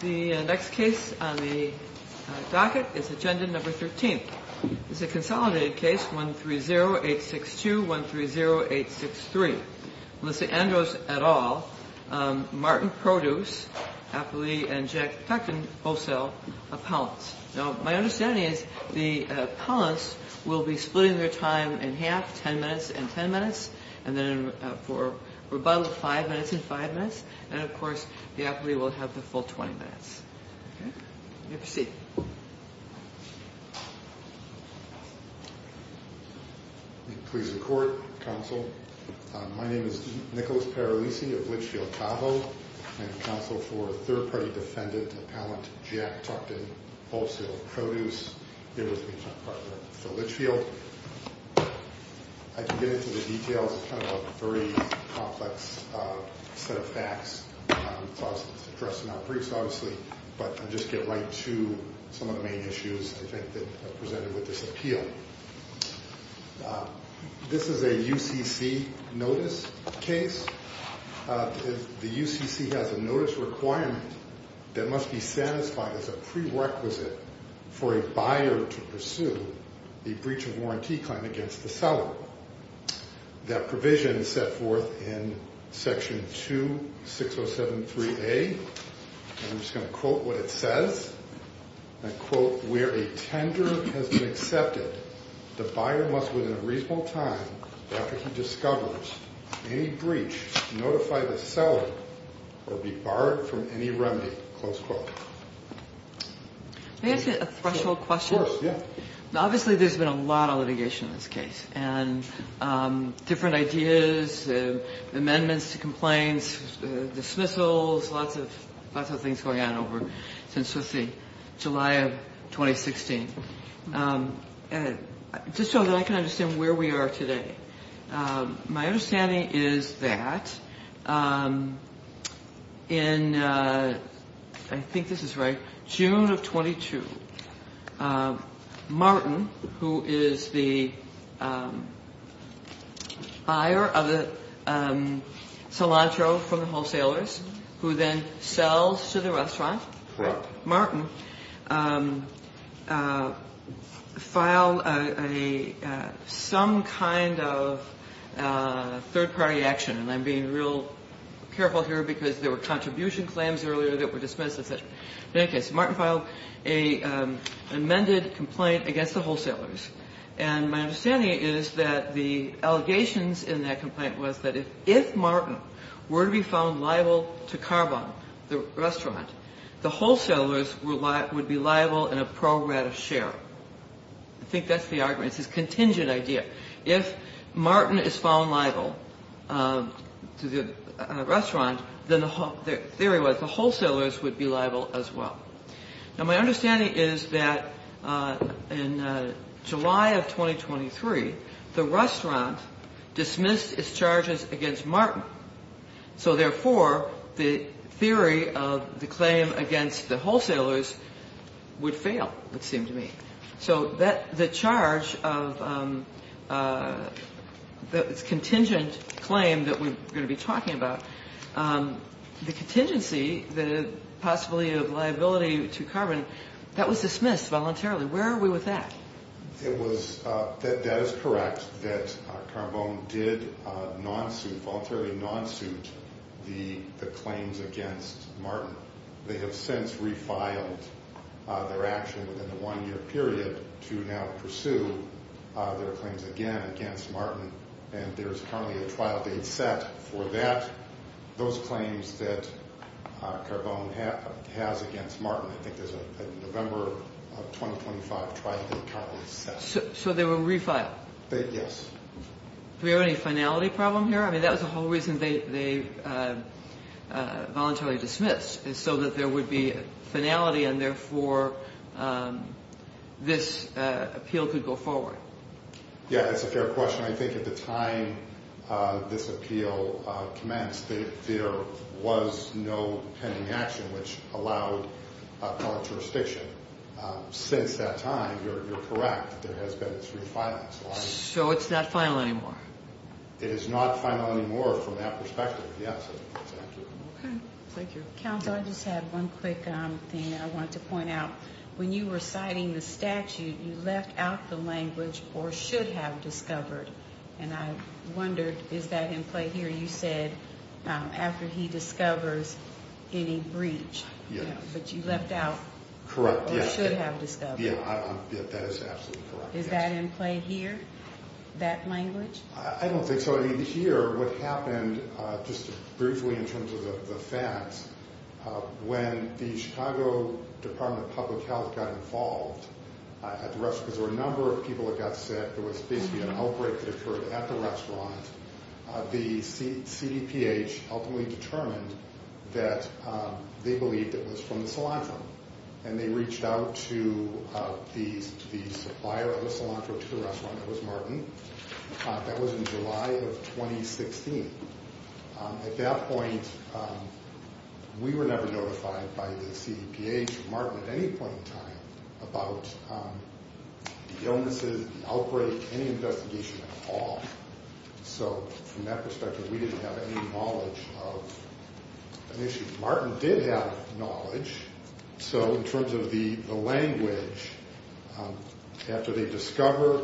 The next case on the docket is agenda number 13. This is a consolidated case 130862-130863. Melissa Andros et al., Martin Produce, Applee and Jack Tuchten Wholesale Appellants. Now, my understanding is the appellants will be splitting their time in half, 10 minutes and 10 minutes, and then for rebuttal, 5 minutes and 5 minutes, and of course, the appellee will have the full 20 minutes. Okay? You may proceed. Please record, counsel. My name is Nicholas Paralisi of Litchfield Tahoe. I am counsel for third-party defendant appellant Jack Tuchten Wholesale Produce. Here with me is my partner Phil Litchfield. I can get into the details. It's kind of a very complex set of facts. It's addressed in our briefs, obviously, but I'll just get right to some of the main issues I think that are presented with this appeal. This is a UCC notice case. The UCC has a notice requirement that must be satisfied as a prerequisite for a buyer to pursue a breach of warranty claim against the seller. That provision is set forth in Section 26073A, and I'm just going to quote what it says. I quote, where a tender has been accepted, the buyer must, within a reasonable time, after he discovers any breach, notify the seller or be barred from any remedy. Close quote. May I ask you a threshold question? Of course, yeah. Obviously, there's been a lot of litigation in this case, and different ideas, amendments to complaints, dismissals, there's lots of things going on over since July of 2016. Just so that I can understand where we are today, my understanding is that in, I think this is right, June of 22, Martin, who is the buyer of the cilantro from the wholesalers, who then sells to the restaurant, Martin filed some kind of third-party action, and I'm being real careful here because there were contribution claims earlier that were dismissed, etc. In any case, Martin filed an amended complaint against the wholesalers, and my understanding is that the allegations in that complaint was that if Martin were to be found liable to Carbone, the restaurant, the wholesalers would be liable in a pro grata share. I think that's the argument. It's this contingent idea. If Martin is found liable to the restaurant, then the theory was the wholesalers would be liable as well. Now, my understanding is that in July of 2023, the restaurant dismissed its charges against Martin. So therefore, the theory of the claim against the wholesalers would fail, it seemed to me. So the charge of the contingent claim that we're going to be talking about, the contingency, the possibility of liability to Carbone, that was dismissed voluntarily. Where are we with that? That is correct, that Carbone did voluntarily non-suit the claims against Martin. They have since refiled their action within the one-year period to now pursue their claims again against Martin, and there is currently a trial date set for that. Those claims that Carbone has against Martin, I think there's a November of 2025 trial date currently set. So they were refiled? Yes. Do we have any finality problem here? I mean, that was the whole reason they voluntarily dismissed, is so that there would be a finality and therefore this appeal could go forward. Yeah, that's a fair question. I think at the time this appeal commenced, there was no pending action which allowed a public jurisdiction. Since that time, you're correct, there has been three filings, right? So it's not final anymore? It is not final anymore from that perspective, yes. Okay, thank you. Counsel, I just have one quick thing I wanted to point out. When you were citing the statute, you left out the language, or should have discovered, and I wondered, is that in play here? You said after he discovers any breach, but you left out, or should have discovered. Yeah, that is absolutely correct. Is that in play here, that language? I don't think so. I mean, here, what happened, just briefly in terms of the facts, when the Chicago Department of Public Health got involved at the restaurant, because there were a number of people that got sick, there was basically an outbreak that occurred at the restaurant, the CDPH ultimately determined that they believed it was from the cilantro, and they reached out to the supplier of the cilantro to the restaurant, that was Martin. That was in July of 2016. At that point, we were never notified by the CDPH or Martin at any point in time about the illnesses, the outbreak, any investigation at all. So from that perspective, we didn't have any knowledge of an issue. Martin did have knowledge, so in terms of the language, after they discover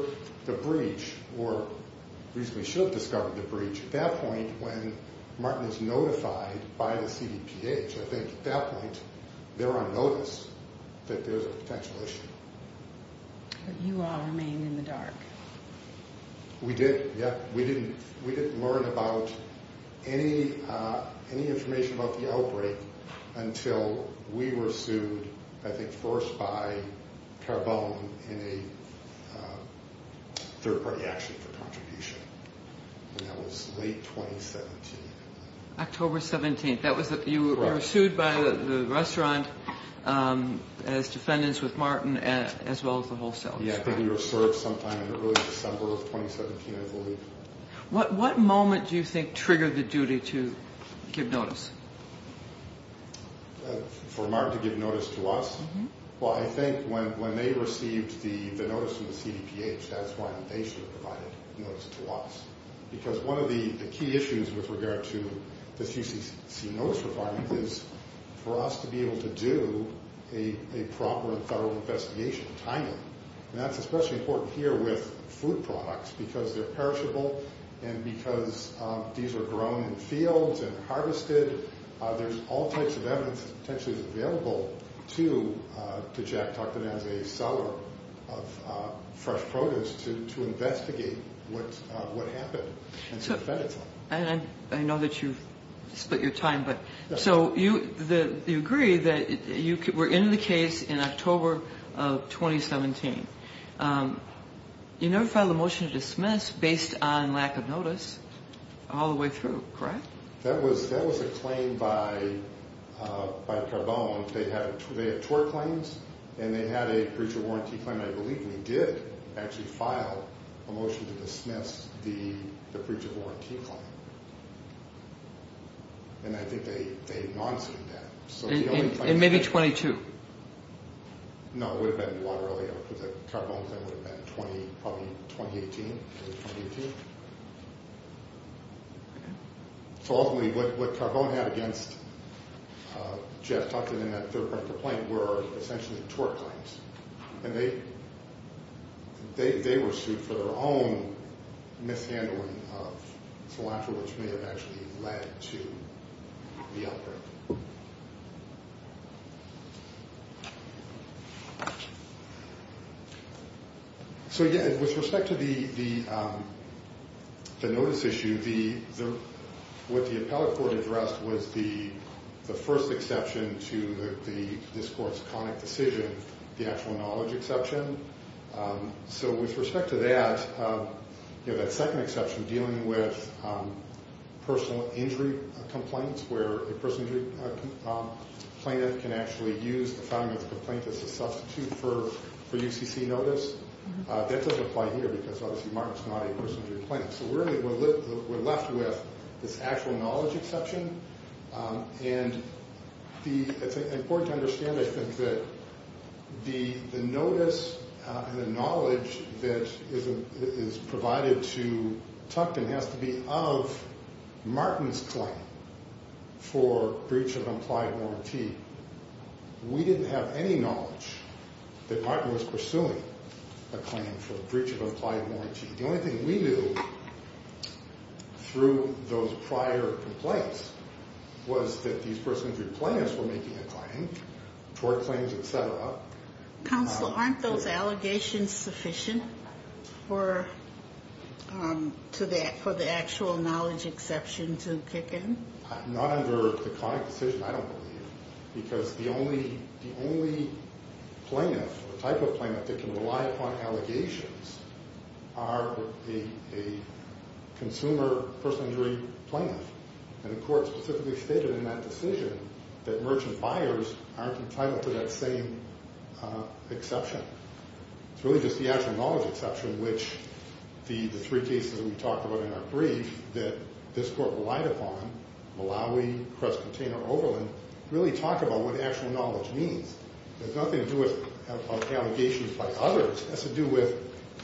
the breach, or at least they should have discovered the breach, at that point when Martin is notified by the CDPH, I think at that point they're on notice that there's a potential issue. But you all remained in the dark. We didn't learn about any information about the outbreak until we were sued, I think first by Carbone in a third-party action for contribution. And that was late 2017. October 17th. You were sued by the restaurant as defendants with Martin, as well as the wholesalers. We were served sometime in early December of 2017, I believe. What moment do you think triggered the duty to give notice? For Martin to give notice to us? Well, I think when they received the notice from the CDPH, that's when they should have provided notice to us. Because one of the key issues with regard to the CCC notice requirement is for us to be able to do a proper and thorough investigation, timely, and that's especially important here with food products because they're perishable and because these are grown in fields and harvested. There's all types of evidence that potentially is available to Jack Tuckton as a seller of fresh produce to investigate what happened. And I know that you've split your time, but so you agree that you were in the case in October of 2017. You never filed a motion to dismiss based on lack of notice all the way through, correct? That was a claim by Carbone. They had tort claims and they had a breach of warranty claim, I believe, and he did actually file a motion to dismiss the breach of warranty claim. And I think they non-sued that. And maybe 22. No, it would have been a lot earlier because the Carbone claim would have been probably 2018. So ultimately what Carbone had against Jack Tuckton and that third-party complaint were essentially tort claims. And they were sued for their own mishandling of cilantro, which may have actually led to the outbreak. So again, with respect to the notice issue, what the appellate court addressed was the first exception to this court's conic decision, the actual knowledge exception. So with respect to that, that second exception dealing with personal injury complaints where a personal injury plaintiff can actually use the finding of the complaint as a substitute for UCC notice, that doesn't apply here because obviously Mark is not a personal injury plaintiff. So really we're left with this actual knowledge exception. And it's important to understand, I think, that the notice and the knowledge that is provided to Tuckton has to be of Martin's claim for breach of implied warranty. We didn't have any knowledge that Martin was pursuing a claim for breach of implied warranty. The only thing we knew through those prior complaints was that these personal injury plaintiffs were making a claim, tort claims, et cetera. Counsel, aren't those allegations sufficient for the actual knowledge exception to kick in? Not under the conic decision, I don't believe, because the only plaintiff or type of plaintiff that can rely upon allegations are a consumer personal injury plaintiff. And the court specifically stated in that decision that merchant buyers aren't entitled to that same exception. It's really just the actual knowledge exception, which the three cases that we talked about in our brief that this court relied upon, Malawi, Crest Container, Overland, really talk about what actual knowledge means. It has nothing to do with allegations by others. It has to do with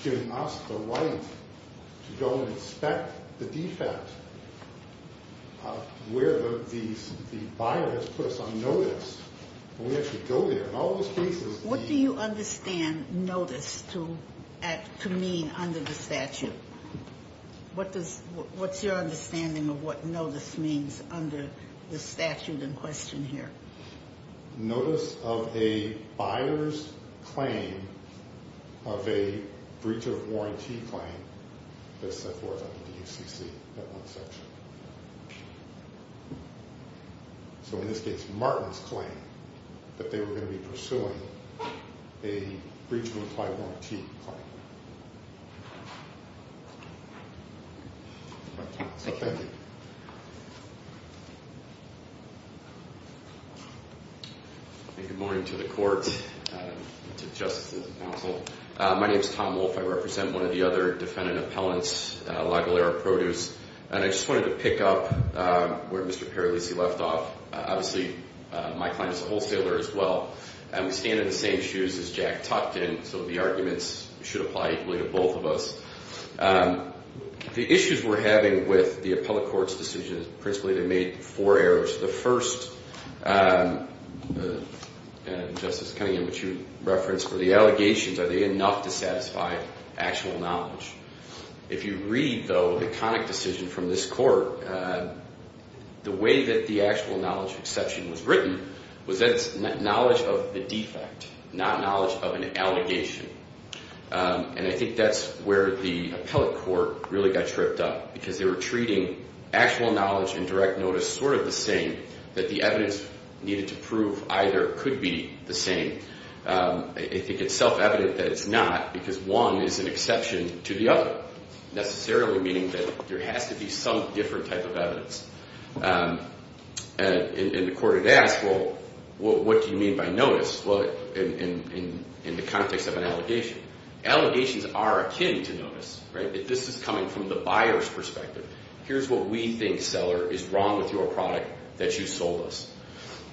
giving us the right to go and inspect the defect of where the buyer has put us on notice. And we actually go there in all those cases. What do you understand notice to mean under the statute? What's your understanding of what notice means under the statute in question here? Notice of a buyer's claim of a breach of warranty claim, as set forth under the UCC, that one section. So in this case, Martin's claim that they were going to be pursuing a breach of warranty claim. Good morning to the court, to the justices and counsel. My name is Tom Wolfe. I represent one of the other defendant appellants, Lagolera Produce. And I just wanted to pick up where Mr. Paralisi left off. Obviously, my client is a wholesaler as well. We stand in the same shoes as Jack Tuckton, so the arguments should apply equally to both of us. The issues we're having with the appellate court's decision is principally they made four errors. The first, Justice Cunningham, which you referenced, were the allegations. Are they enough to satisfy actual knowledge? If you read, though, the conic decision from this court, the way that the actual knowledge exception was written was that it's knowledge of the defect, not knowledge of an allegation. And I think that's where the appellate court really got tripped up, because they were treating actual knowledge and direct notice sort of the same, that the evidence needed to prove either could be the same. I think it's self-evident that it's not, because one is an exception to the other, necessarily meaning that there has to be some different type of evidence. And the court had asked, well, what do you mean by notice in the context of an allegation? Allegations are akin to notice. This is coming from the buyer's perspective. Here's what we think, seller, is wrong with your product that you sold us.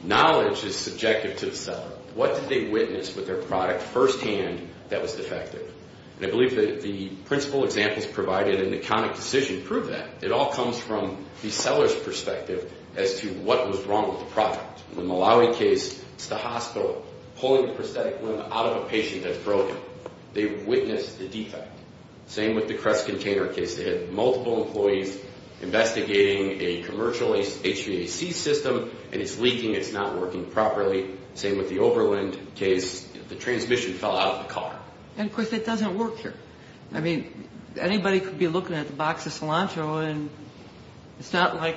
Knowledge is subjective to the seller. What did they witness with their product firsthand that was defective? And I believe that the principal examples provided in the conic decision prove that. It all comes from the seller's perspective as to what was wrong with the product. In the Malawi case, it's the hospital pulling the prosthetic limb out of a patient that's broken. They witnessed the defect. Same with the Crest container case. They had multiple employees investigating a commercial HVAC system, and it's leaking, it's not working properly. Same with the Overland case. The transmission fell out of the car. And, of course, it doesn't work here. I mean, anybody could be looking at the box of cilantro, and it's not like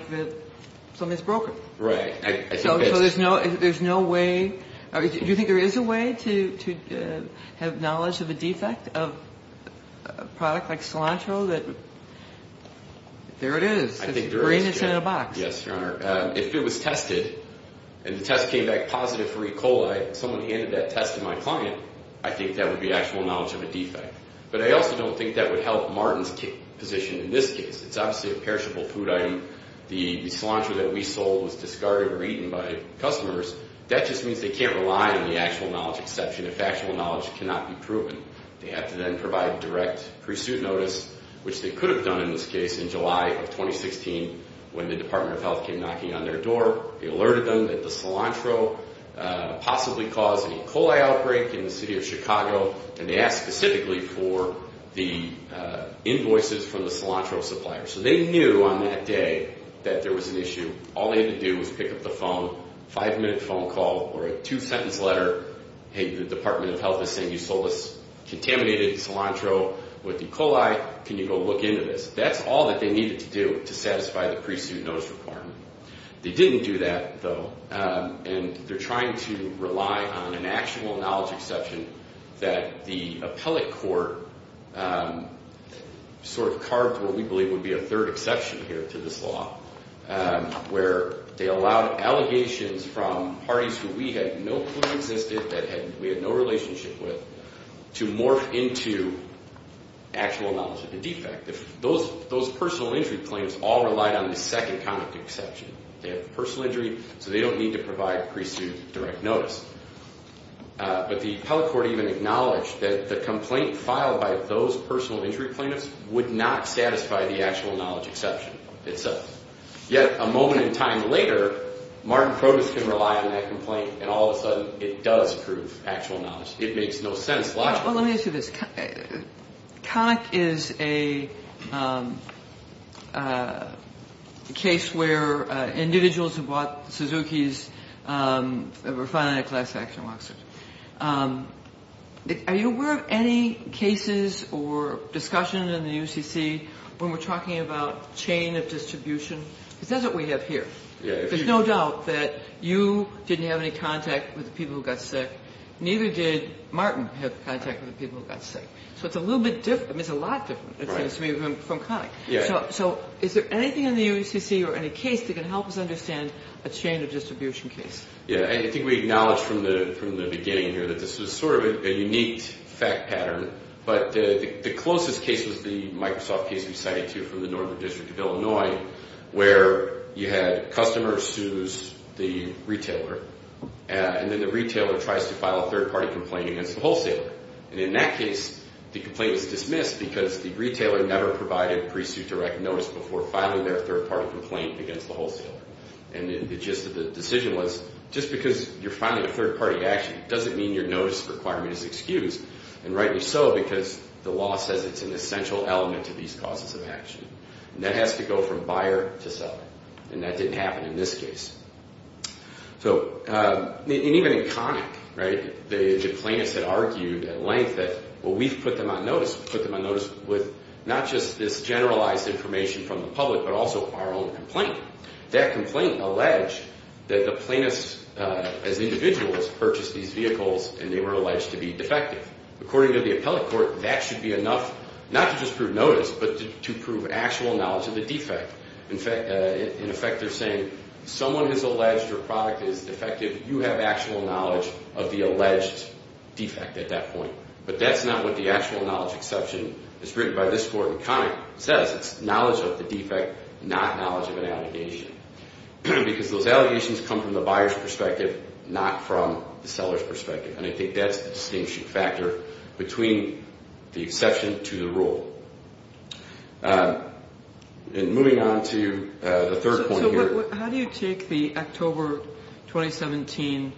something's broken. Right. So there's no way. Do you think there is a way to have knowledge of a defect of a product like cilantro? There it is. The brain is in a box. Yes, Your Honor. If it was tested, and the test came back positive for E. coli, someone handed that test to my client, I think that would be actual knowledge of a defect. But I also don't think that would help Martin's position in this case. It's obviously a perishable food item. The cilantro that we sold was discarded or eaten by customers. That just means they can't rely on the actual knowledge, exception if actual knowledge cannot be proven. They have to then provide direct pursuit notice, which they could have done in this case in July of 2016 when the Department of Health came knocking on their door. They alerted them that the cilantro possibly caused an E. coli outbreak in the city of Chicago, and they asked specifically for the invoices from the cilantro supplier. So they knew on that day that there was an issue. All they had to do was pick up the phone, five-minute phone call or a two-sentence letter, hey, the Department of Health is saying you sold us contaminated cilantro with E. coli. Can you go look into this? That's all that they needed to do to satisfy the pursuit notice requirement. They didn't do that, though, and they're trying to rely on an actual knowledge exception that the appellate court sort of carved what we believe would be a third exception here to this law, where they allowed allegations from parties who we had no clue existed, that we had no relationship with, to morph into actual knowledge of the defect. Those personal injury plaintiffs all relied on the second kind of exception. They have personal injury, so they don't need to provide pursuit direct notice. But the appellate court even acknowledged that the complaint filed by those personal injury plaintiffs would not satisfy the actual knowledge exception itself. Yet, a moment in time later, Martin Krogus can rely on that complaint, and all of a sudden it does prove actual knowledge. It makes no sense logically. Well, let me ask you this. Connick is a case where individuals who bought Suzuki's refined class action waxers. Are you aware of any cases or discussion in the UCC when we're talking about chain of distribution? Because that's what we have here. There's no doubt that you didn't have any contact with the people who got sick. Neither did Martin have contact with the people who got sick. So it's a little bit different. It's a lot different, it seems to me, from Connick. So is there anything in the UCC or any case that can help us understand a chain of distribution case? Yeah, I think we acknowledged from the beginning here that this was sort of a unique fact pattern. But the closest case was the Microsoft case we cited to you from the Northern District of Illinois, where you had customers sues the retailer, and then the retailer tries to file a third-party complaint against the wholesaler. And in that case, the complaint was dismissed because the retailer never provided pre-sue direct notice before filing their third-party complaint against the wholesaler. And the gist of the decision was, just because you're filing a third-party action doesn't mean your notice requirement is excused. And rightly so, because the law says it's an essential element to these causes of action. And that has to go from buyer to seller. And that didn't happen in this case. And even in Connick, the plaintiffs had argued at length that, well, we've put them on notice. We've put them on notice with not just this generalized information from the public, but also our own complaint. That complaint alleged that the plaintiffs, as individuals, purchased these vehicles, and they were alleged to be defective. According to the appellate court, that should be enough not to just prove notice, but to prove actual knowledge of the defect. In effect, they're saying, someone has alleged your product is defective. You have actual knowledge of the alleged defect at that point. But that's not what the actual knowledge exception is written by this court in Connick. It says it's knowledge of the defect, not knowledge of an allegation. Because those allegations come from the buyer's perspective, not from the seller's perspective. And I think that's the distinction factor between the exception to the rule. And moving on to the third point here. So how do you take the October 2017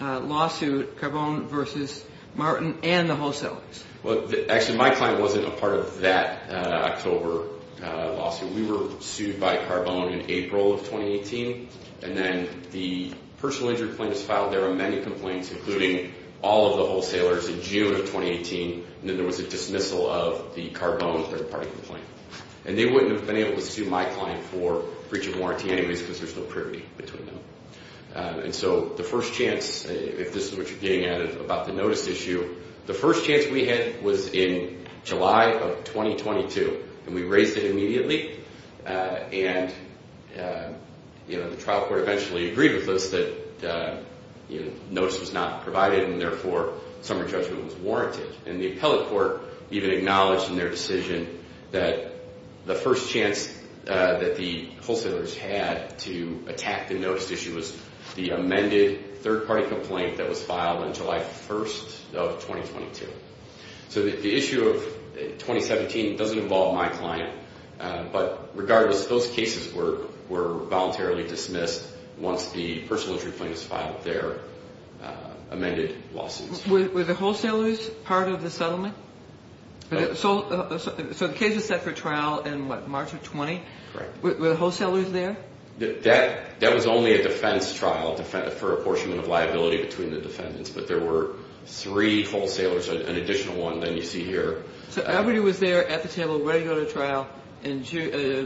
lawsuit, Carbone v. Martin, and the wholesalers? Well, actually, my client wasn't a part of that October lawsuit. We were sued by Carbone in April of 2018. And then the personal injury claim was filed. There were many complaints, including all of the wholesalers in June of 2018. And then there was a dismissal of the Carbone third-party complaint. And they wouldn't have been able to sue my client for breach of warranty anyways because there's no parity between them. And so the first chance, if this is what you're getting at about the notice issue, the first chance we had was in July of 2022. And we raised it immediately. And, you know, the trial court eventually agreed with us that notice was not provided and therefore summary judgment was warranted. And the appellate court even acknowledged in their decision that the first chance that the wholesalers had to attack the notice issue was the amended third-party complaint that was filed on July 1st of 2022. So the issue of 2017 doesn't involve my client. But regardless, those cases were voluntarily dismissed once the personal injury claim was filed there, amended lawsuits. Were the wholesalers part of the settlement? So the case was set for trial in, what, March of 20? Correct. Were the wholesalers there? That was only a defense trial for apportionment of liability between the defendants. But there were three wholesalers, an additional one that you see here. So everybody was there at the table ready to go to trial in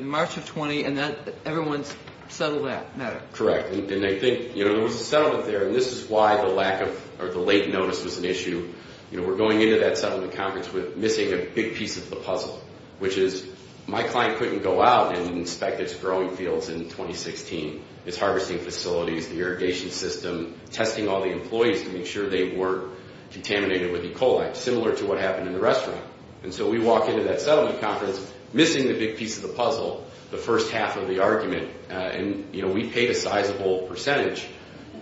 March of 20, and then everyone settled that matter? Correct. And I think, you know, there was a settlement there. And this is why the late notice was an issue. You know, we're going into that settlement conference with missing a big piece of the puzzle, which is my client couldn't go out and inspect its growing fields in 2016. It's harvesting facilities, the irrigation system, testing all the employees to make sure they weren't contaminated with E. coli, similar to what happened in the restaurant. And so we walk into that settlement conference missing the big piece of the puzzle, the first half of the argument. And, you know, we paid a sizable percentage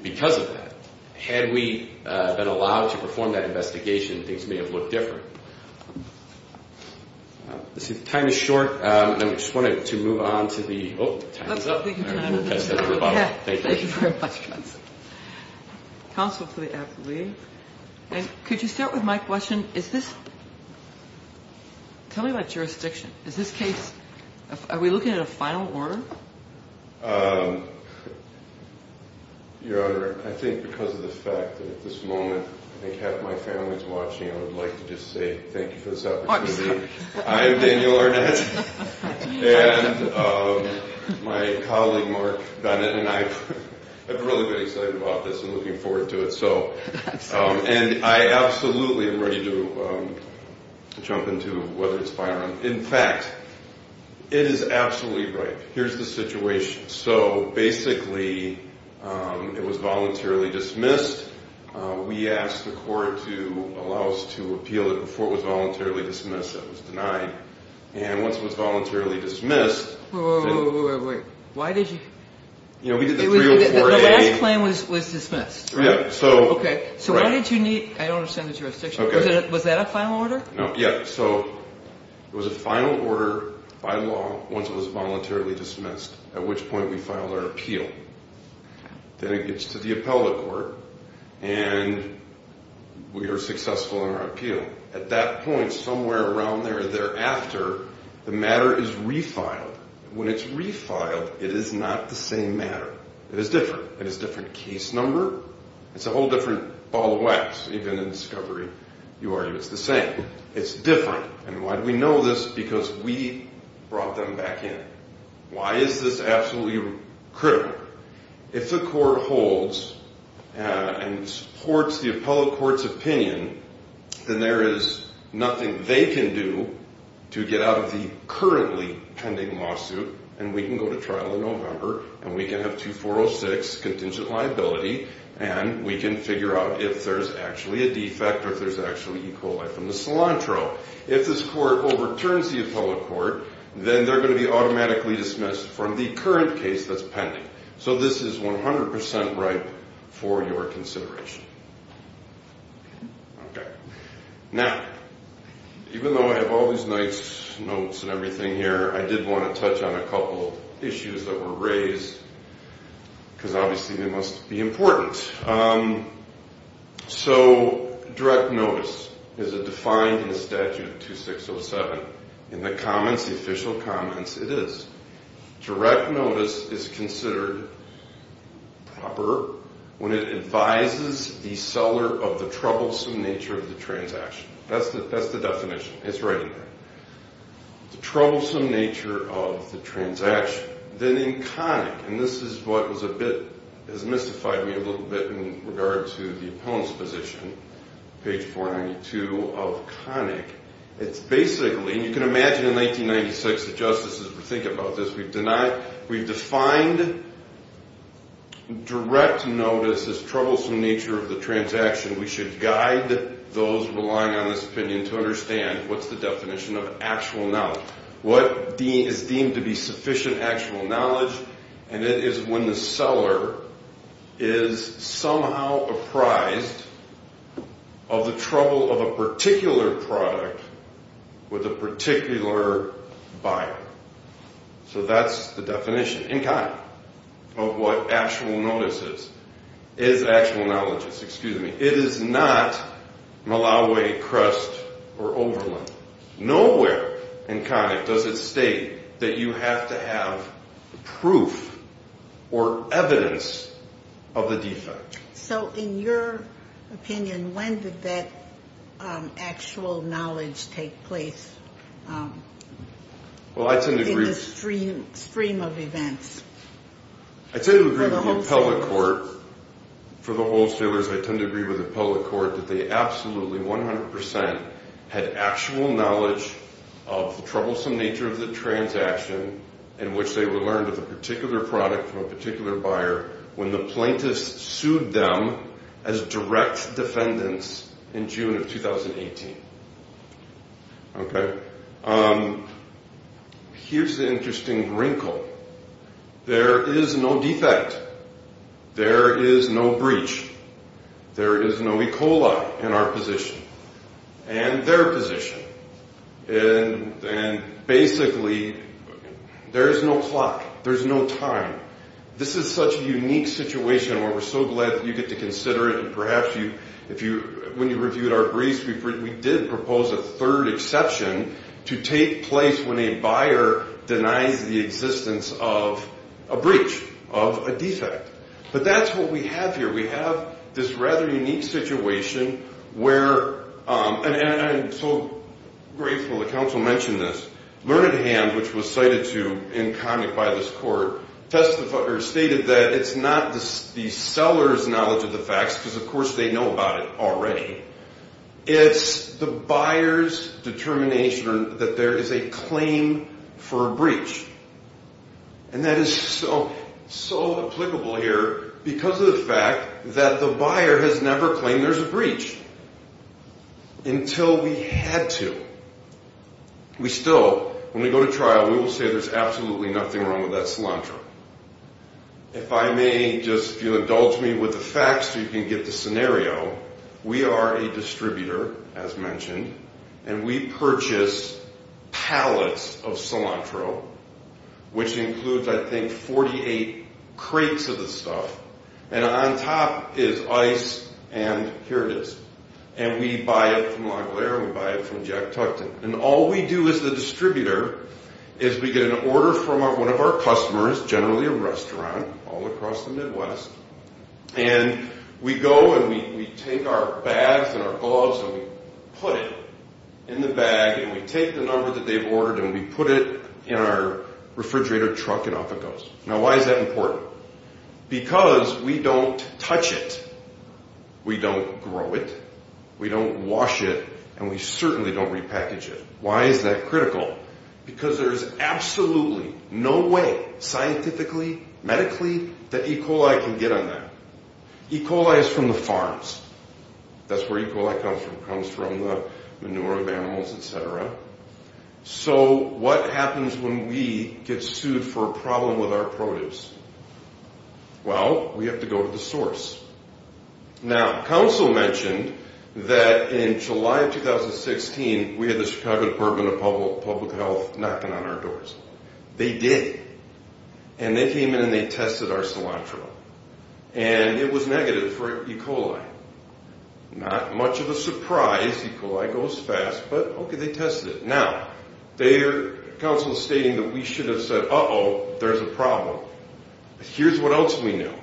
because of that. Had we been allowed to perform that investigation, things may have looked different. Time is short. I just wanted to move on to the – oh, time is up. Thank you very much. Counsel for the appellee. Could you start with my question? Is this – tell me about jurisdiction. Is this case – are we looking at a final order? Your Honor, I think because of the fact that at this moment I think half my family is watching, I would like to just say thank you for this opportunity. I am Daniel Arnett, and my colleague Mark Bennett and I have really been excited about this and looking forward to it. And I absolutely am ready to jump into whether it's firearm. In fact, it is absolutely right. Here's the situation. So basically it was voluntarily dismissed. We asked the court to allow us to appeal it before it was voluntarily dismissed. It was denied. And once it was voluntarily dismissed – Wait, wait, wait, wait, wait. Why did you – You know, we did the 304A – The last claim was dismissed, right? Yeah. So – Okay. So why did you need – I don't understand the jurisdiction. Was that a final order? No. Yeah. So it was a final order by law once it was voluntarily dismissed, at which point we filed our appeal. Then it gets to the appellate court, and we are successful in our appeal. At that point, somewhere around there, thereafter, the matter is refiled. When it's refiled, it is not the same matter. It is different. It is a different case number. It's a whole different ball of wax. Even in discovery, you argue it's the same. It's different. And why do we know this? Because we brought them back in. Why is this absolutely critical? If the court holds and supports the appellate court's opinion, then there is nothing they can do to get out of the currently pending lawsuit, and we can go to trial in November, and we can have 2406, contingent liability, and we can figure out if there's actually a defect or if there's actually E. coli from the cilantro. If this court overturns the appellate court, then they're going to be automatically dismissed from the current case that's pending. So this is 100% ripe for your consideration. Okay. Now, even though I have all these nice notes and everything here, I did want to touch on a couple of issues that were raised because, obviously, they must be important. So direct notice is defined in the statute of 2607. In the comments, the official comments, it is. Direct notice is considered proper when it advises the seller of the troublesome nature of the transaction. That's the definition. It's right in there. The troublesome nature of the transaction. Then in Connick, and this is what was a bit, has mystified me a little bit in regard to the opponent's position, page 492 of Connick. It's basically, and you can imagine in 1896, the justices were thinking about this. We've defined direct notice as troublesome nature of the transaction. We should guide those relying on this opinion to understand what's the definition of actual knowledge. What is deemed to be sufficient actual knowledge, and it is when the seller is somehow apprised of the trouble of a particular product with a particular buyer. So that's the definition, in Connick, of what actual notice is. Is actual knowledge, excuse me. It is not Malawi, Crest, or Oberlin. Nowhere in Connick does it state that you have to have proof or evidence of a defect. So in your opinion, when did that actual knowledge take place in the stream of events? I tend to agree with the appellate court, for the wholesalers, I tend to agree with the appellate court that they absolutely, 100%, had actual knowledge of the troublesome nature of the transaction in which they were learned of a particular product from a particular buyer when the plaintiffs sued them as direct defendants in June of 2018. Here's the interesting wrinkle. There is no defect. There is no breach. There is no E. coli in our position. And their position. And basically, there is no clock. There's no time. This is such a unique situation where we're so glad that you get to consider it, and perhaps when you reviewed our briefs, we did propose a third exception to take place when a buyer denies the existence of a breach, of a defect. But that's what we have here. We have this rather unique situation where, and I'm so grateful the counsel mentioned this, Learned Hand, which was cited to in Connick by this court, stated that it's not the seller's knowledge of the facts, because of course they know about it already, it's the buyer's determination that there is a claim for a breach. And that is so applicable here because of the fact that the buyer has never claimed there's a breach until we had to. We still, when we go to trial, we will say there's absolutely nothing wrong with that cilantro. If I may, just if you'll indulge me with the facts so you can get the scenario, we are a distributor, as mentioned, and we purchase pallets of cilantro, which includes, I think, 48 crates of this stuff. And on top is ice, and here it is. And we buy it from Lagler, and we buy it from Jack Tuckton. And all we do as the distributor is we get an order from one of our customers, generally a restaurant all across the Midwest, and we go and we take our bags and our gloves and we put it in the bag, and we take the number that they've ordered and we put it in our refrigerator truck and off it goes. Now why is that important? Because we don't touch it. We don't grow it. We don't wash it, and we certainly don't repackage it. Why is that critical? Because there's absolutely no way scientifically, medically, that E. coli can get on that. E. coli is from the farms. That's where E. coli comes from. It comes from the manure of animals, et cetera. So what happens when we get sued for a problem with our produce? Well, we have to go to the source. Now Council mentioned that in July of 2016 we had the Chicago Department of Public Health knocking on our doors. They did. And they came in and they tested our cilantro. And it was negative for E. coli. Not much of a surprise. E. coli goes fast. But, okay, they tested it. Now Council is stating that we should have said, uh-oh, there's a problem. Here's what else we know.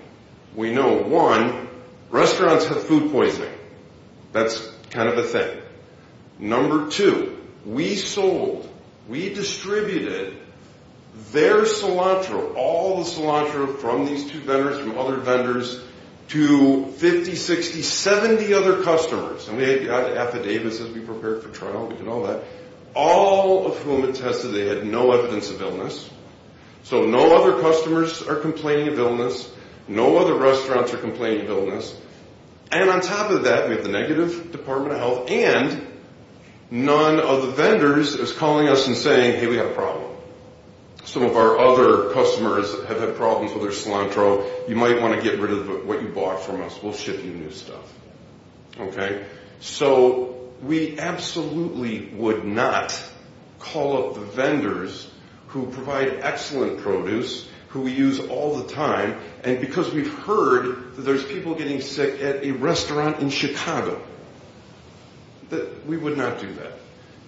We know, one, restaurants have food poisoning. That's kind of a thing. Number two, we sold, we distributed their cilantro, all the cilantro from these two vendors, from other vendors, to 50, 60, 70 other customers. And we had affidavits as we prepared for trial. We did all that. All of whom had tested they had no evidence of illness. So no other customers are complaining of illness. No other restaurants are complaining of illness. And on top of that, we have the negative Department of Health and none of the vendors is calling us and saying, hey, we have a problem. Some of our other customers have had problems with their cilantro. You might want to get rid of what you bought from us. We'll ship you new stuff. Okay, so we absolutely would not call up the vendors who provide excellent produce, who we use all the time, and because we've heard that there's people getting sick at a restaurant in Chicago. We would not do that.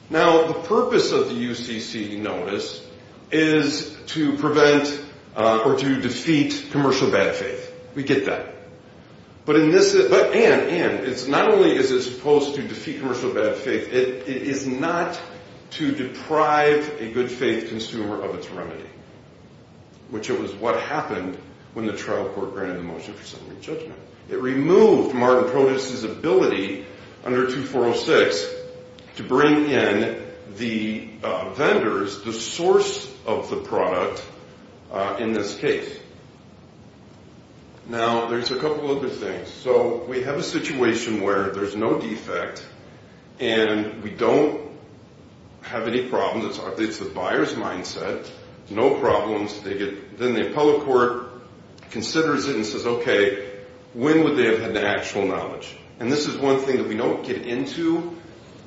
Now, the purpose of the UCC notice is to prevent or to defeat commercial bad faith. We get that. And not only is it supposed to defeat commercial bad faith, it is not to deprive a good faith consumer of its remedy, which it was what happened when the trial court granted the motion for summary judgment. It removed Martin Produce's ability under 2406 to bring in the vendors, the source of the product, in this case. Now, there's a couple other things. So we have a situation where there's no defect and we don't have any problems. It's the buyer's mindset. No problems. Then the appellate court considers it and says, okay, when would they have had the actual knowledge? And this is one thing that we don't get into.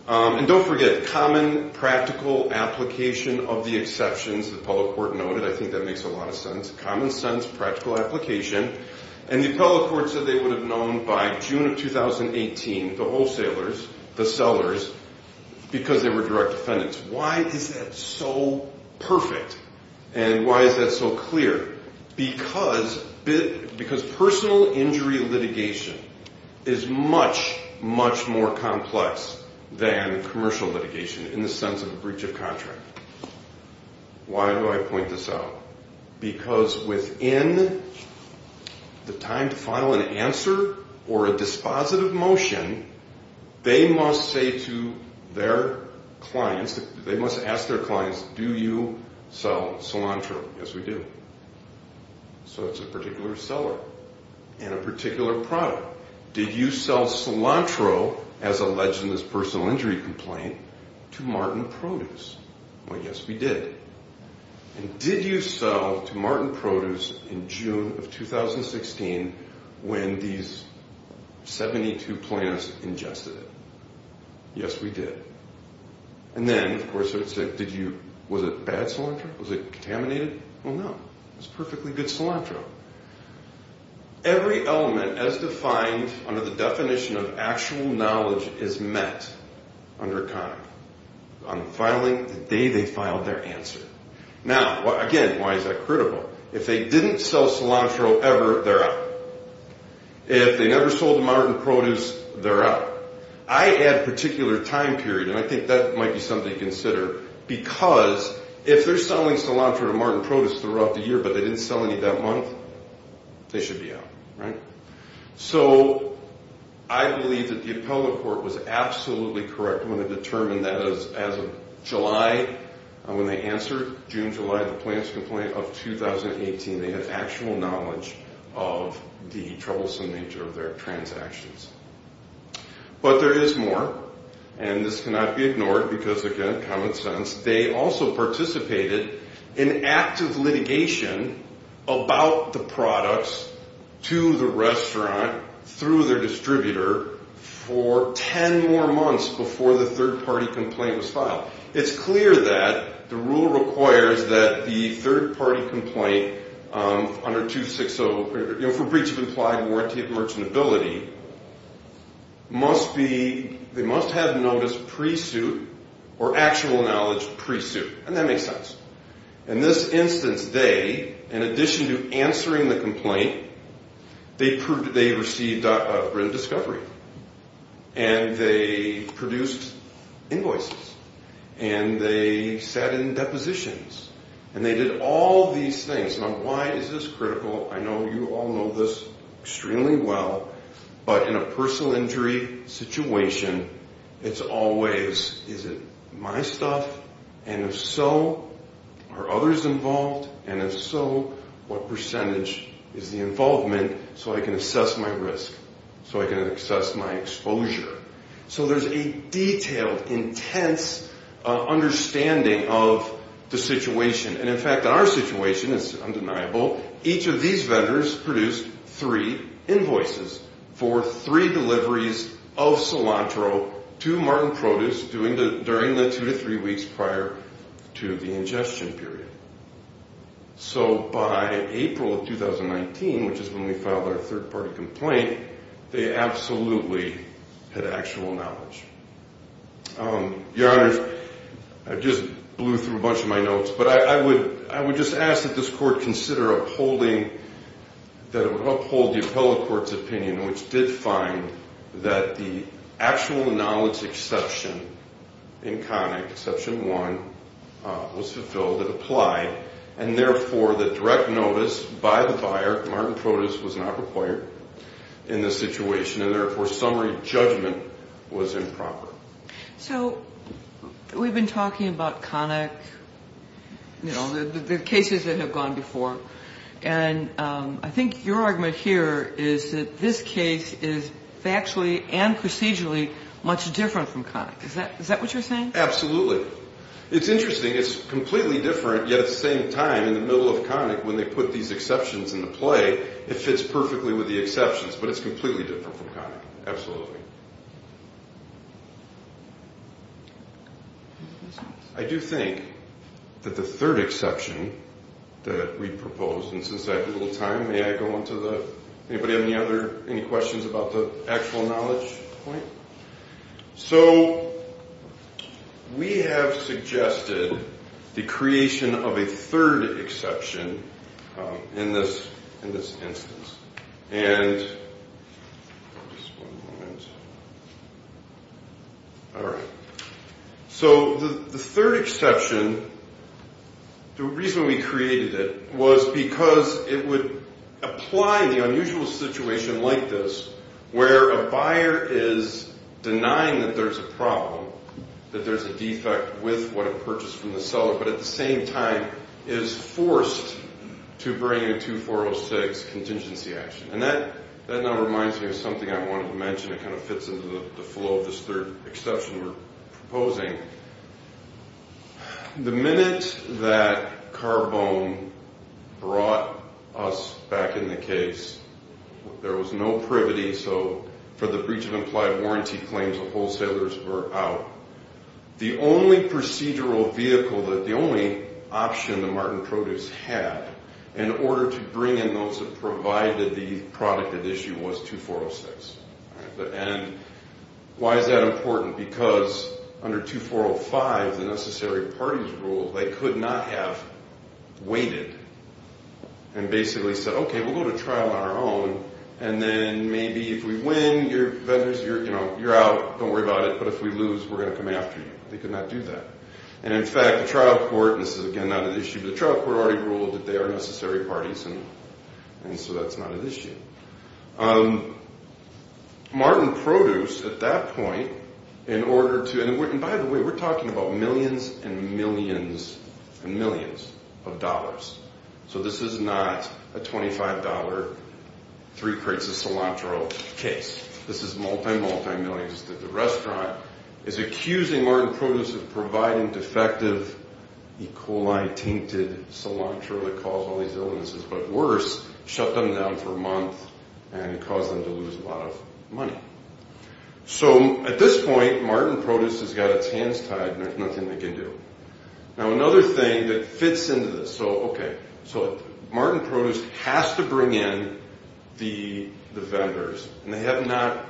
And don't forget, common practical application of the exceptions, the appellate court noted. I think that makes a lot of sense. Common sense, practical application. And the appellate court said they would have known by June of 2018, the wholesalers, the sellers, because they were direct defendants. Why is that so perfect? And why is that so clear? Because personal injury litigation is much, much more complex than commercial litigation in the sense of a breach of contract. Why do I point this out? Because within the time to file an answer or a dispositive motion, they must say to their clients, they must ask their clients, do you sell cilantro? Yes, we do. So it's a particular seller and a particular product. Did you sell cilantro, as alleged in this personal injury complaint, to Martin Produce? Well, yes, we did. And did you sell to Martin Produce in June of 2016 when these 72 plants ingested it? Yes, we did. And then, of course, it would say, was it bad cilantro? Was it contaminated? Well, no. It was perfectly good cilantro. Every element, as defined under the definition of actual knowledge, is met under COM, on the day they filed their answer. Now, again, why is that critical? If they didn't sell cilantro ever, they're out. If they never sold to Martin Produce, they're out. I add a particular time period, and I think that might be something to consider, because if they're selling cilantro to Martin Produce throughout the year, but they didn't sell any that month, they should be out. Right? So I believe that the appellate court was absolutely correct when they determined that as of July, when they answered, June, July, the plants complaint of 2018, they had actual knowledge of the troublesome nature of their transactions. But there is more, and this cannot be ignored because, again, common sense. They also participated in active litigation about the products to the restaurant through their distributor for 10 more months before the third-party complaint was filed. It's clear that the rule requires that the third-party complaint under 260, for breach of implied warranty of merchantability, must have notice pre-suit or actual knowledge pre-suit. And that makes sense. In this instance, they, in addition to answering the complaint, they received written discovery. And they produced invoices. And they sat in depositions. And they did all these things. Now, why is this critical? I know you all know this extremely well. But in a personal injury situation, it's always, is it my stuff? And if so, are others involved? And if so, what percentage is the involvement so I can assess my risk, so I can assess my exposure? So there's a detailed, intense understanding of the situation. And, in fact, our situation is undeniable. Each of these vendors produced three invoices for three deliveries of cilantro to Martin Produce during the two to three weeks prior to the ingestion period. So by April of 2019, which is when we filed our third-party complaint, they absolutely had actual knowledge. Your Honor, I just blew through a bunch of my notes. But I would just ask that this court consider upholding, that it would uphold the appellate court's opinion, which did find that the actual knowledge exception in Connick, Exception 1, was fulfilled. It applied. And, therefore, the direct notice by the buyer, Martin Produce, was not required in this situation. And, therefore, summary judgment was improper. So we've been talking about Connick, you know, the cases that have gone before. And I think your argument here is that this case is factually and procedurally much different from Connick. Is that what you're saying? Absolutely. It's interesting. It's completely different, yet at the same time, in the middle of Connick, when they put these exceptions into play, it fits perfectly with the exceptions. But it's completely different from Connick. Absolutely. I do think that the third exception that we proposed, and since I have a little time, may I go on to the... Anybody have any questions about the actual knowledge point? So we have suggested the creation of a third exception in this instance. So the third exception, the reason we created it was because it would apply in the unusual situation like this, where a buyer is denying that there's a problem, that there's a defect with what it purchased from the seller, but at the same time is forced to bring in a 2406 contingency action. And that now reminds me of something I wanted to mention. It kind of fits into the flow of this third exception we're proposing. The minute that Carbone brought us back in the case, there was no privity, so for the breach of implied warranty claims, the wholesalers were out. The only procedural vehicle, the only option that Martin Produce had in order to bring in those that provided the product at issue was 2406. And why is that important? Because under 2405, the necessary parties rule, they could not have waited and basically said, okay, we'll go to trial on our own, and then maybe if we win, you're out, don't worry about it, but if we lose, we're going to come after you. They could not do that. And in fact, the trial court, and this is again not at issue, but the trial court already ruled that they are necessary parties, and so that's not at issue. Martin Produce, at that point, in order to, and by the way, we're talking about millions and millions and millions of dollars, so this is not a $25 three crates of cilantro case. This is multi, multi millions that the restaurant is accusing Martin Produce of providing defective E. coli-tainted cilantro that caused all these illnesses, but worse, shut them down for a month and caused them to lose a lot of money. So at this point, Martin Produce has got its hands tied, and there's nothing they can do. Now another thing that fits into this, so, okay, so Martin Produce has to bring in the vendors, and they have not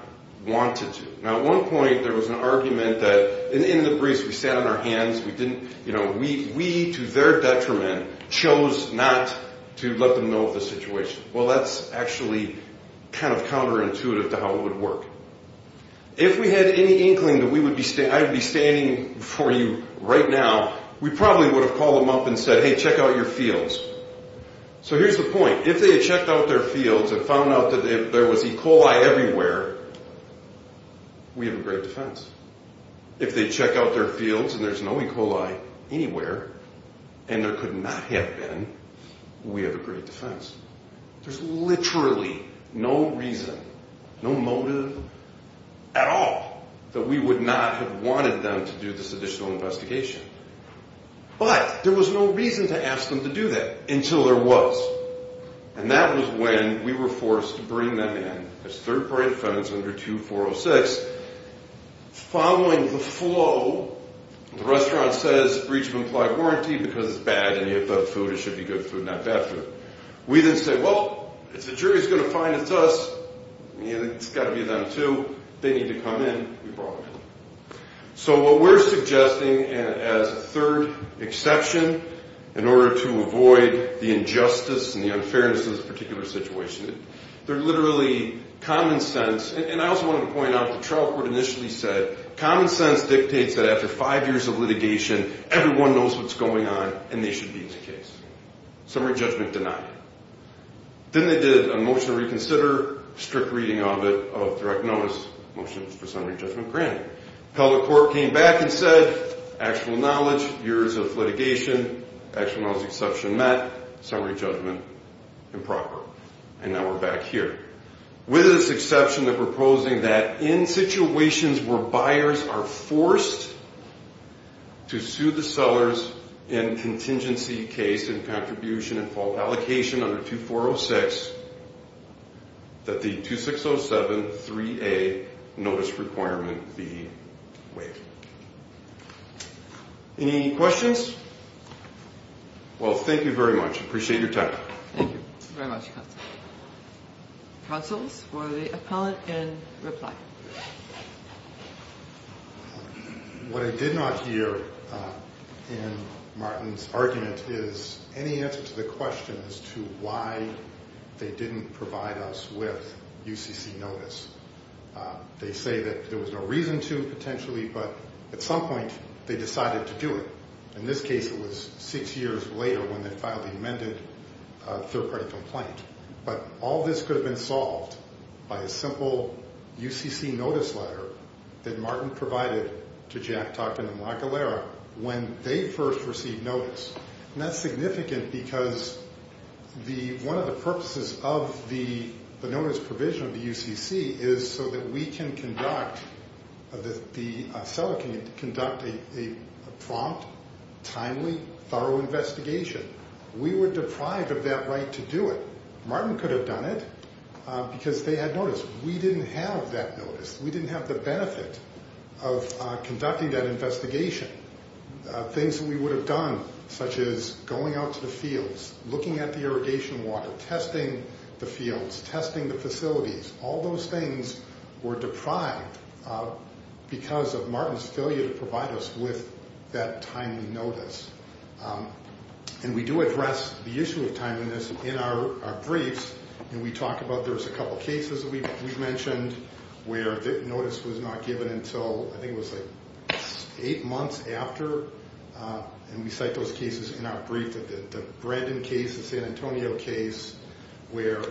wanted to. Now at one point, there was an argument that, in the briefs, we sat on our hands, we didn't, you know, we, to their detriment, chose not to let them know of the situation. Well, that's actually kind of counterintuitive to how it would work. If we had any inkling that I would be standing before you right now, we probably would have called them up and said, hey, check out your fields. So here's the point. If they had checked out their fields and found out that there was E. coli everywhere, we have a great defense. If they check out their fields and there's no E. coli anywhere, and there could not have been, we have a great defense. There's literally no reason, no motive at all that we would not have wanted them to do this additional investigation. But there was no reason to ask them to do that until there was, and that was when we were forced to bring them in as third-party defendants under 2406. Following the flow, the restaurant says, breach of implied warranty because it's bad and you have bad food. It should be good food, not bad food. We then say, well, if the jury's going to find it's us, it's got to be them too. They need to come in. We brought them in. So what we're suggesting as a third exception in order to avoid the injustice and the unfairness of this particular situation, they're literally common sense, and I also wanted to point out the trial court initially said, common sense dictates that after five years of litigation, everyone knows what's going on and they should be in the case. Summary judgment denied. Then they did a motion to reconsider, strict reading of it, of direct notice, motions for summary judgment granted. Appellate court came back and said, actual knowledge, years of litigation, actual knowledge exception met, summary judgment improper. And now we're back here. With this exception, they're proposing that in situations where buyers are forced to sue the sellers in contingency case and contribution and fault allocation under 2406, that the 2607-3A notice requirement be waived. Any questions? Well, thank you very much. Appreciate your time. Thank you very much, counsel. Counsels for the appellant in reply. What I did not hear in Martin's argument is any answer to the question as to why they didn't provide us with UCC notice. They say that there was no reason to potentially, but at some point they decided to do it. In this case, it was six years later when they filed the amended third-party complaint. But all this could have been solved by a simple UCC notice letter that Martin provided to Jack Tockton and Mark Gallera when they first received notice. And that's significant because one of the purposes of the notice provision of the UCC is so that we can conduct, the seller can conduct a prompt, timely, thorough investigation. We were deprived of that right to do it. Martin could have done it because they had notice. We didn't have that notice. We didn't have the benefit of conducting that investigation. Things that we would have done, such as going out to the fields, looking at the irrigation water, testing the fields, testing the facilities, all those things were deprived because of Martin's failure to provide us with that timely notice. And we do address the issue of timeliness in our briefs. And we talk about there's a couple cases that we've mentioned where notice was not given until, I think it was like eight months after. And we cite those cases in our brief. The Brandon case, the San Antonio case, where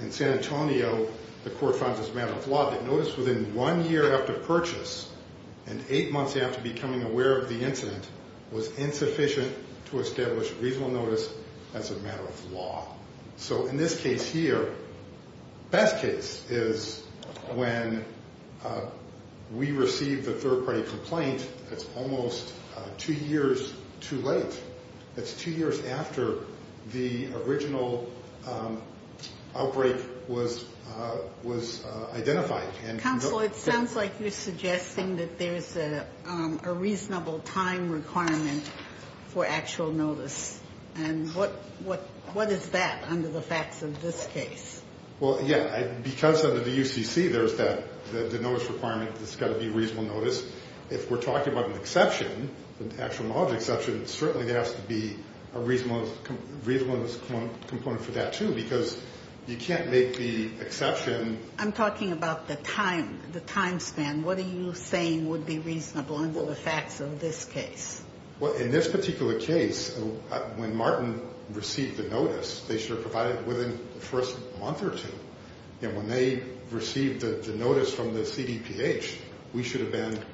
in San Antonio the court finds it a matter of law that notice within one year after purchase and eight months after becoming aware of the incident was insufficient to establish reasonable notice as a matter of law. So in this case here, best case is when we receive the third-party complaint that's almost two years too late. That's two years after the original outbreak was identified. Counsel, it sounds like you're suggesting that there's a reasonable time requirement for actual notice. And what is that under the facts of this case? Well, yeah, because under the UCC there's the notice requirement that there's got to be reasonable notice. If we're talking about an exception, an actual knowledge exception, certainly there has to be a reasonableness component for that, too, because you can't make the exception. I'm talking about the time, the time span. What are you saying would be reasonable under the facts of this case? Well, in this particular case, when Martin received the notice, they should have provided it within the first month or two. And when they received the notice from the CDPH, we should have been notified.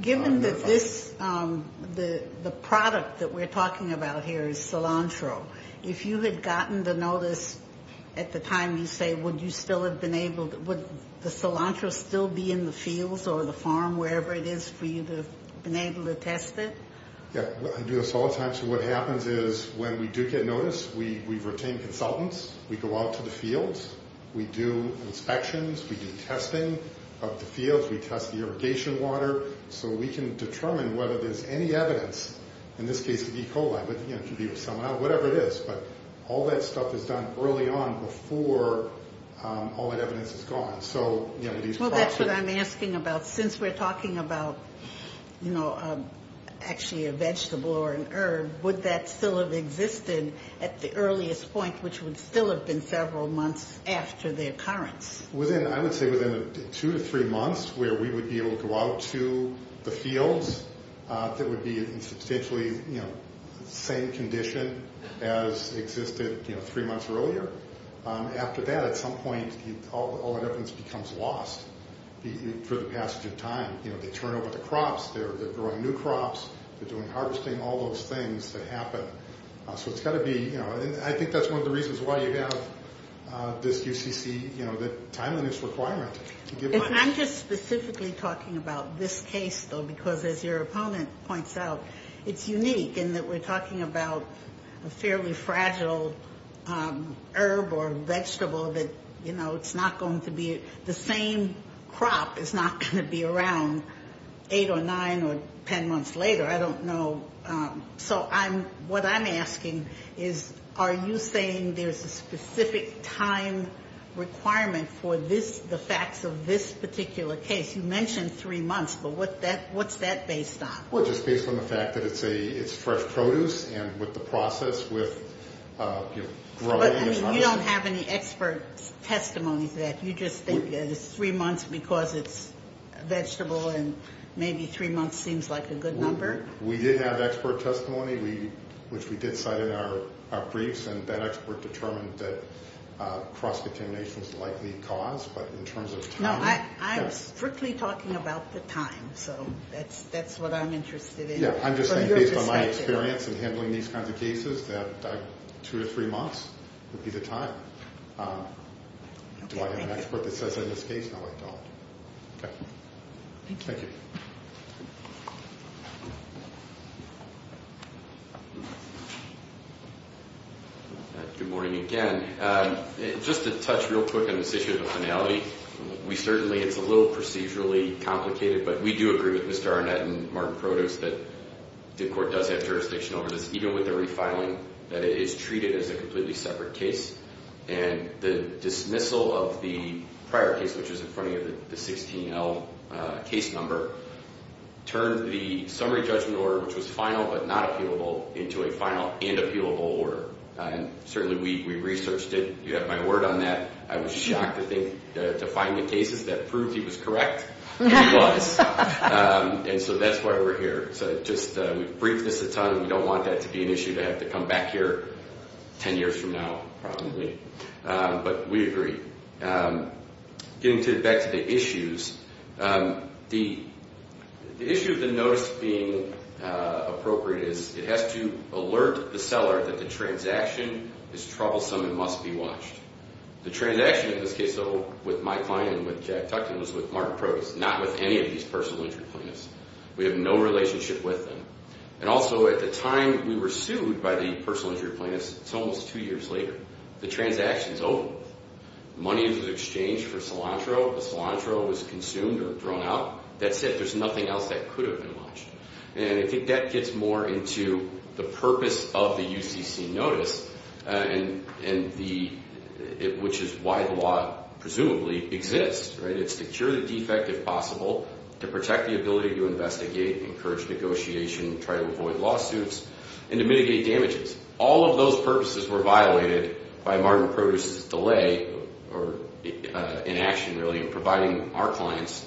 Given that this, the product that we're talking about here is cilantro, if you had gotten the notice at the time you say would you still have been able to, would the cilantro still be in the fields or the farm, wherever it is, for you to have been able to test it? Yeah, I do this all the time. So what happens is when we do get notice, we've retained consultants. We go out to the fields. We do inspections. We do testing of the fields. We test the irrigation water so we can determine whether there's any evidence, in this case, of E. coli. Whatever it is. But all that stuff is done early on before all that evidence is gone. Well, that's what I'm asking about. Since we're talking about, you know, actually a vegetable or an herb, would that still have existed at the earliest point, which would still have been several months after the occurrence? I would say within two to three months where we would be able to go out to the fields, that would be in substantially the same condition as existed three months earlier. After that, at some point, all that evidence becomes lost for the passage of time. You know, they turn over the crops. They're growing new crops. They're doing harvesting, all those things that happen. So it's got to be, you know, I think that's one of the reasons why you have this UCC, you know, the timeliness requirement. I'm just specifically talking about this case, though, because, as your opponent points out, it's unique in that we're talking about a fairly fragile herb or vegetable that, you know, it's not going to be the same crop is not going to be around eight or nine or ten months later. I don't know. So what I'm asking is are you saying there's a specific time requirement for this, the facts of this particular case? You mentioned three months, but what's that based on? Well, just based on the fact that it's fresh produce and with the process with growing and harvesting. But you don't have any expert testimony to that. You just think it's three months because it's a vegetable and maybe three months seems like a good number? We did have expert testimony, which we did cite in our briefs, and that expert determined that cross-determination is the likely cause, but in terms of time. No, I'm strictly talking about the time. So that's what I'm interested in. Yeah, I'm just saying based on my experience in handling these kinds of cases, that two or three months would be the time. Do I have an expert that says that in this case? No, I don't. Okay. Thank you. Good morning again. Just to touch real quick on this issue of the finality, we certainly, it's a little procedurally complicated, but we do agree with Mr. Arnett and Martin Produce that the court does have jurisdiction over this, even with the refiling, that it is treated as a completely separate case. And the dismissal of the prior case, which was in front of you, the 16L case number, turned the summary judgment order, which was final but not appealable, into a final and appealable order. And certainly we researched it. You have my word on that. I was shocked to find the cases that proved he was correct. And he was. And so that's why we're here. So just we've briefed this a ton. We don't want that to be an issue to have to come back here 10 years from now, probably. But we agree. Getting back to the issues, the issue of the notice being appropriate is it has to alert the seller that the transaction is troublesome and must be watched. The transaction in this case, though, with my client and with Jack Tuckton was with Martin Produce, not with any of these personal injury plaintiffs. We have no relationship with them. And also at the time we were sued by the personal injury plaintiffs, it's almost two years later. The transaction is over. The money was exchanged for cilantro. The cilantro was consumed or thrown out. That said, there's nothing else that could have been watched. And I think that gets more into the purpose of the UCC notice, which is why the law presumably exists. It's to cure the defect, if possible, to protect the ability to investigate, encourage negotiation, try to avoid lawsuits, and to mitigate damages. All of those purposes were violated by Martin Produce's delay or inaction, really, in providing our clients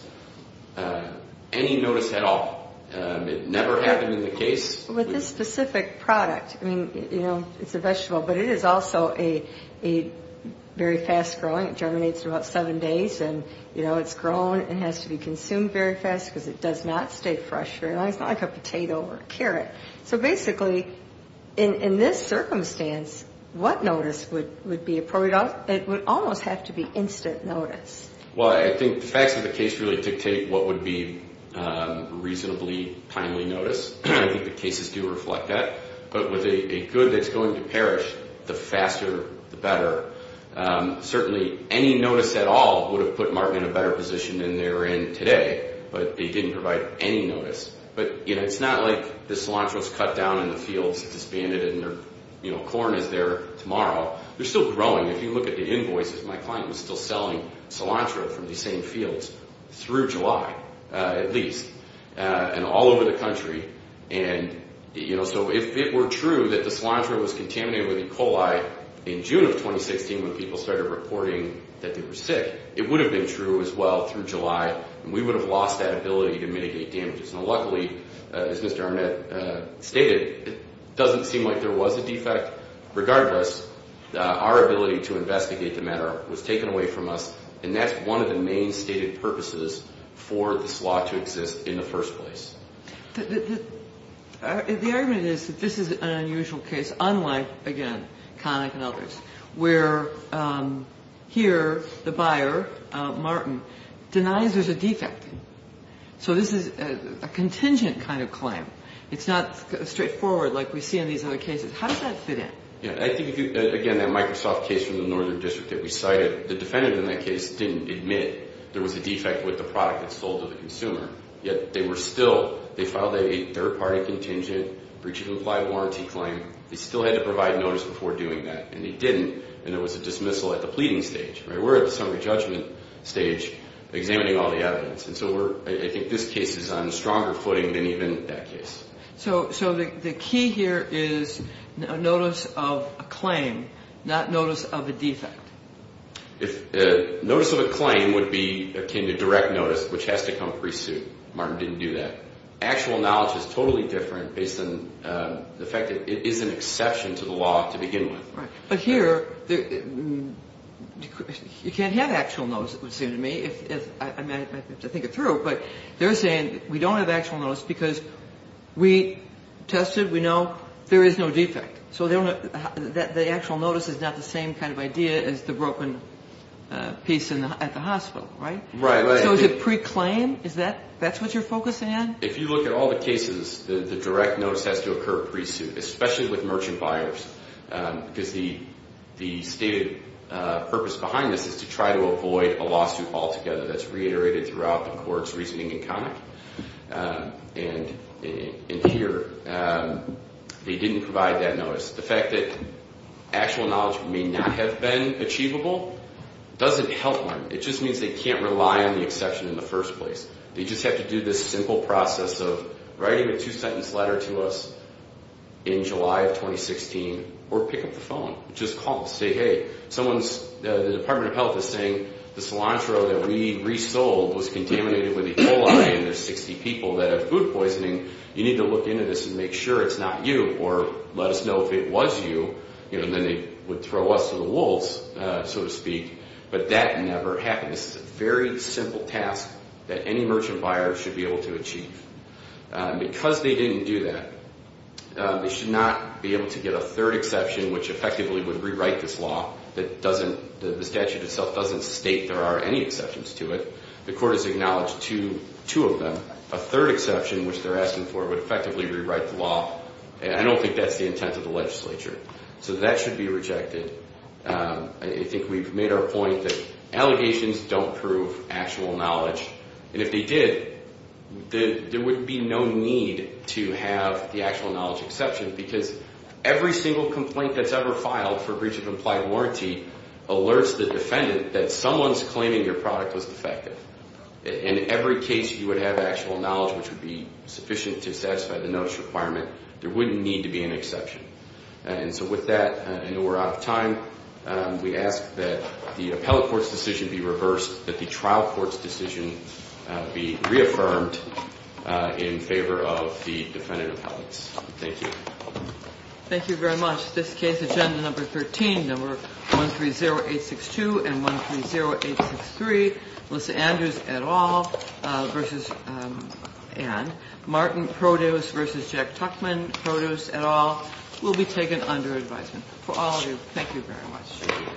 any notice at all. It never happened in the case. With this specific product, I mean, you know, it's a vegetable, but it is also a very fast-growing. It germinates in about seven days, and, you know, it's grown. It has to be consumed very fast because it does not stay fresh very long. It's not like a potato or a carrot. So basically, in this circumstance, what notice would be appropriate? It would almost have to be instant notice. Well, I think the facts of the case really dictate what would be reasonably timely notice. I think the cases do reflect that. But with a good that's going to perish, the faster, the better. Certainly, any notice at all would have put Martin in a better position than they're in today, but it didn't provide any notice. But, you know, it's not like the cilantro is cut down in the fields, disbanded, and their, you know, corn is there tomorrow. They're still growing. If you look at the invoices, my client was still selling cilantro from these same fields through July, at least, and all over the country. And, you know, so if it were true that the cilantro was contaminated with E. coli in June of 2016 when people started reporting that they were sick, it would have been true as well through July, and we would have lost that ability to mitigate damages. Now, luckily, as Mr. Arnett stated, it doesn't seem like there was a defect. Regardless, our ability to investigate the matter was taken away from us, and that's one of the main stated purposes for this law to exist in the first place. The argument is that this is an unusual case, unlike, again, Connick and others, where here the buyer, Martin, denies there's a defect. So this is a contingent kind of claim. It's not straightforward like we see in these other cases. How does that fit in? Yeah, I think, again, that Microsoft case from the Northern District that we cited, the defendant in that case didn't admit there was a defect with the product that sold to the consumer, yet they were still they filed a third-party contingent breach of implied warranty claim. They still had to provide notice before doing that, and they didn't, and there was a dismissal at the pleading stage. We're at the summary judgment stage examining all the evidence, and so I think this case is on a stronger footing than even that case. So the key here is notice of a claim, not notice of a defect. Notice of a claim would be akin to direct notice, which has to come pre-suit. Martin didn't do that. Actual knowledge is totally different based on the fact that it is an exception to the law to begin with. Right, but here you can't have actual notice, it would seem to me. I'd have to think it through, but they're saying we don't have actual notice because we tested, we know there is no defect. So the actual notice is not the same kind of idea as the broken piece at the hospital, right? Right. So is it pre-claim? That's what you're focused on? If you look at all the cases, the direct notice has to occur pre-suit, especially with merchant buyers, because the stated purpose behind this is to try to avoid a lawsuit altogether that's reiterated throughout the court's reasoning and comment. And here, they didn't provide that notice. The fact that actual knowledge may not have been achievable doesn't help them. It just means they can't rely on the exception in the first place. They just have to do this simple process of writing a two-sentence letter to us in July of 2016 or pick up the phone, just call and say, hey, someone's, the Department of Health is saying the cilantro that we resold was contaminated with E. coli and there's 60 people that have food poisoning. You need to look into this and make sure it's not you or let us know if it was you, and then they would throw us to the wolves, so to speak. But that never happened. This is a very simple task that any merchant buyer should be able to achieve. Because they didn't do that, they should not be able to get a third exception, which effectively would rewrite this law that doesn't, the statute itself doesn't state there are any exceptions to it. The court has acknowledged two of them. A third exception, which they're asking for, would effectively rewrite the law. I don't think that's the intent of the legislature. So that should be rejected. I think we've made our point that allegations don't prove actual knowledge. And if they did, there would be no need to have the actual knowledge exception because every single complaint that's ever filed for breach of implied warranty alerts the defendant that someone's claiming your product was defective. In every case you would have actual knowledge, which would be sufficient to satisfy the notice requirement. There wouldn't need to be an exception. And so with that, I know we're out of time. We ask that the appellate court's decision be reversed, that the trial court's decision be reaffirmed in favor of the defendant appellants. Thank you. Thank you very much. This case, agenda number 13, number 130862 and 130863, Melissa Andrews et al. versus Anne, Martin Produce versus Jack Tuckman, Produce et al. will be taken under advisement. For all of you, thank you very much.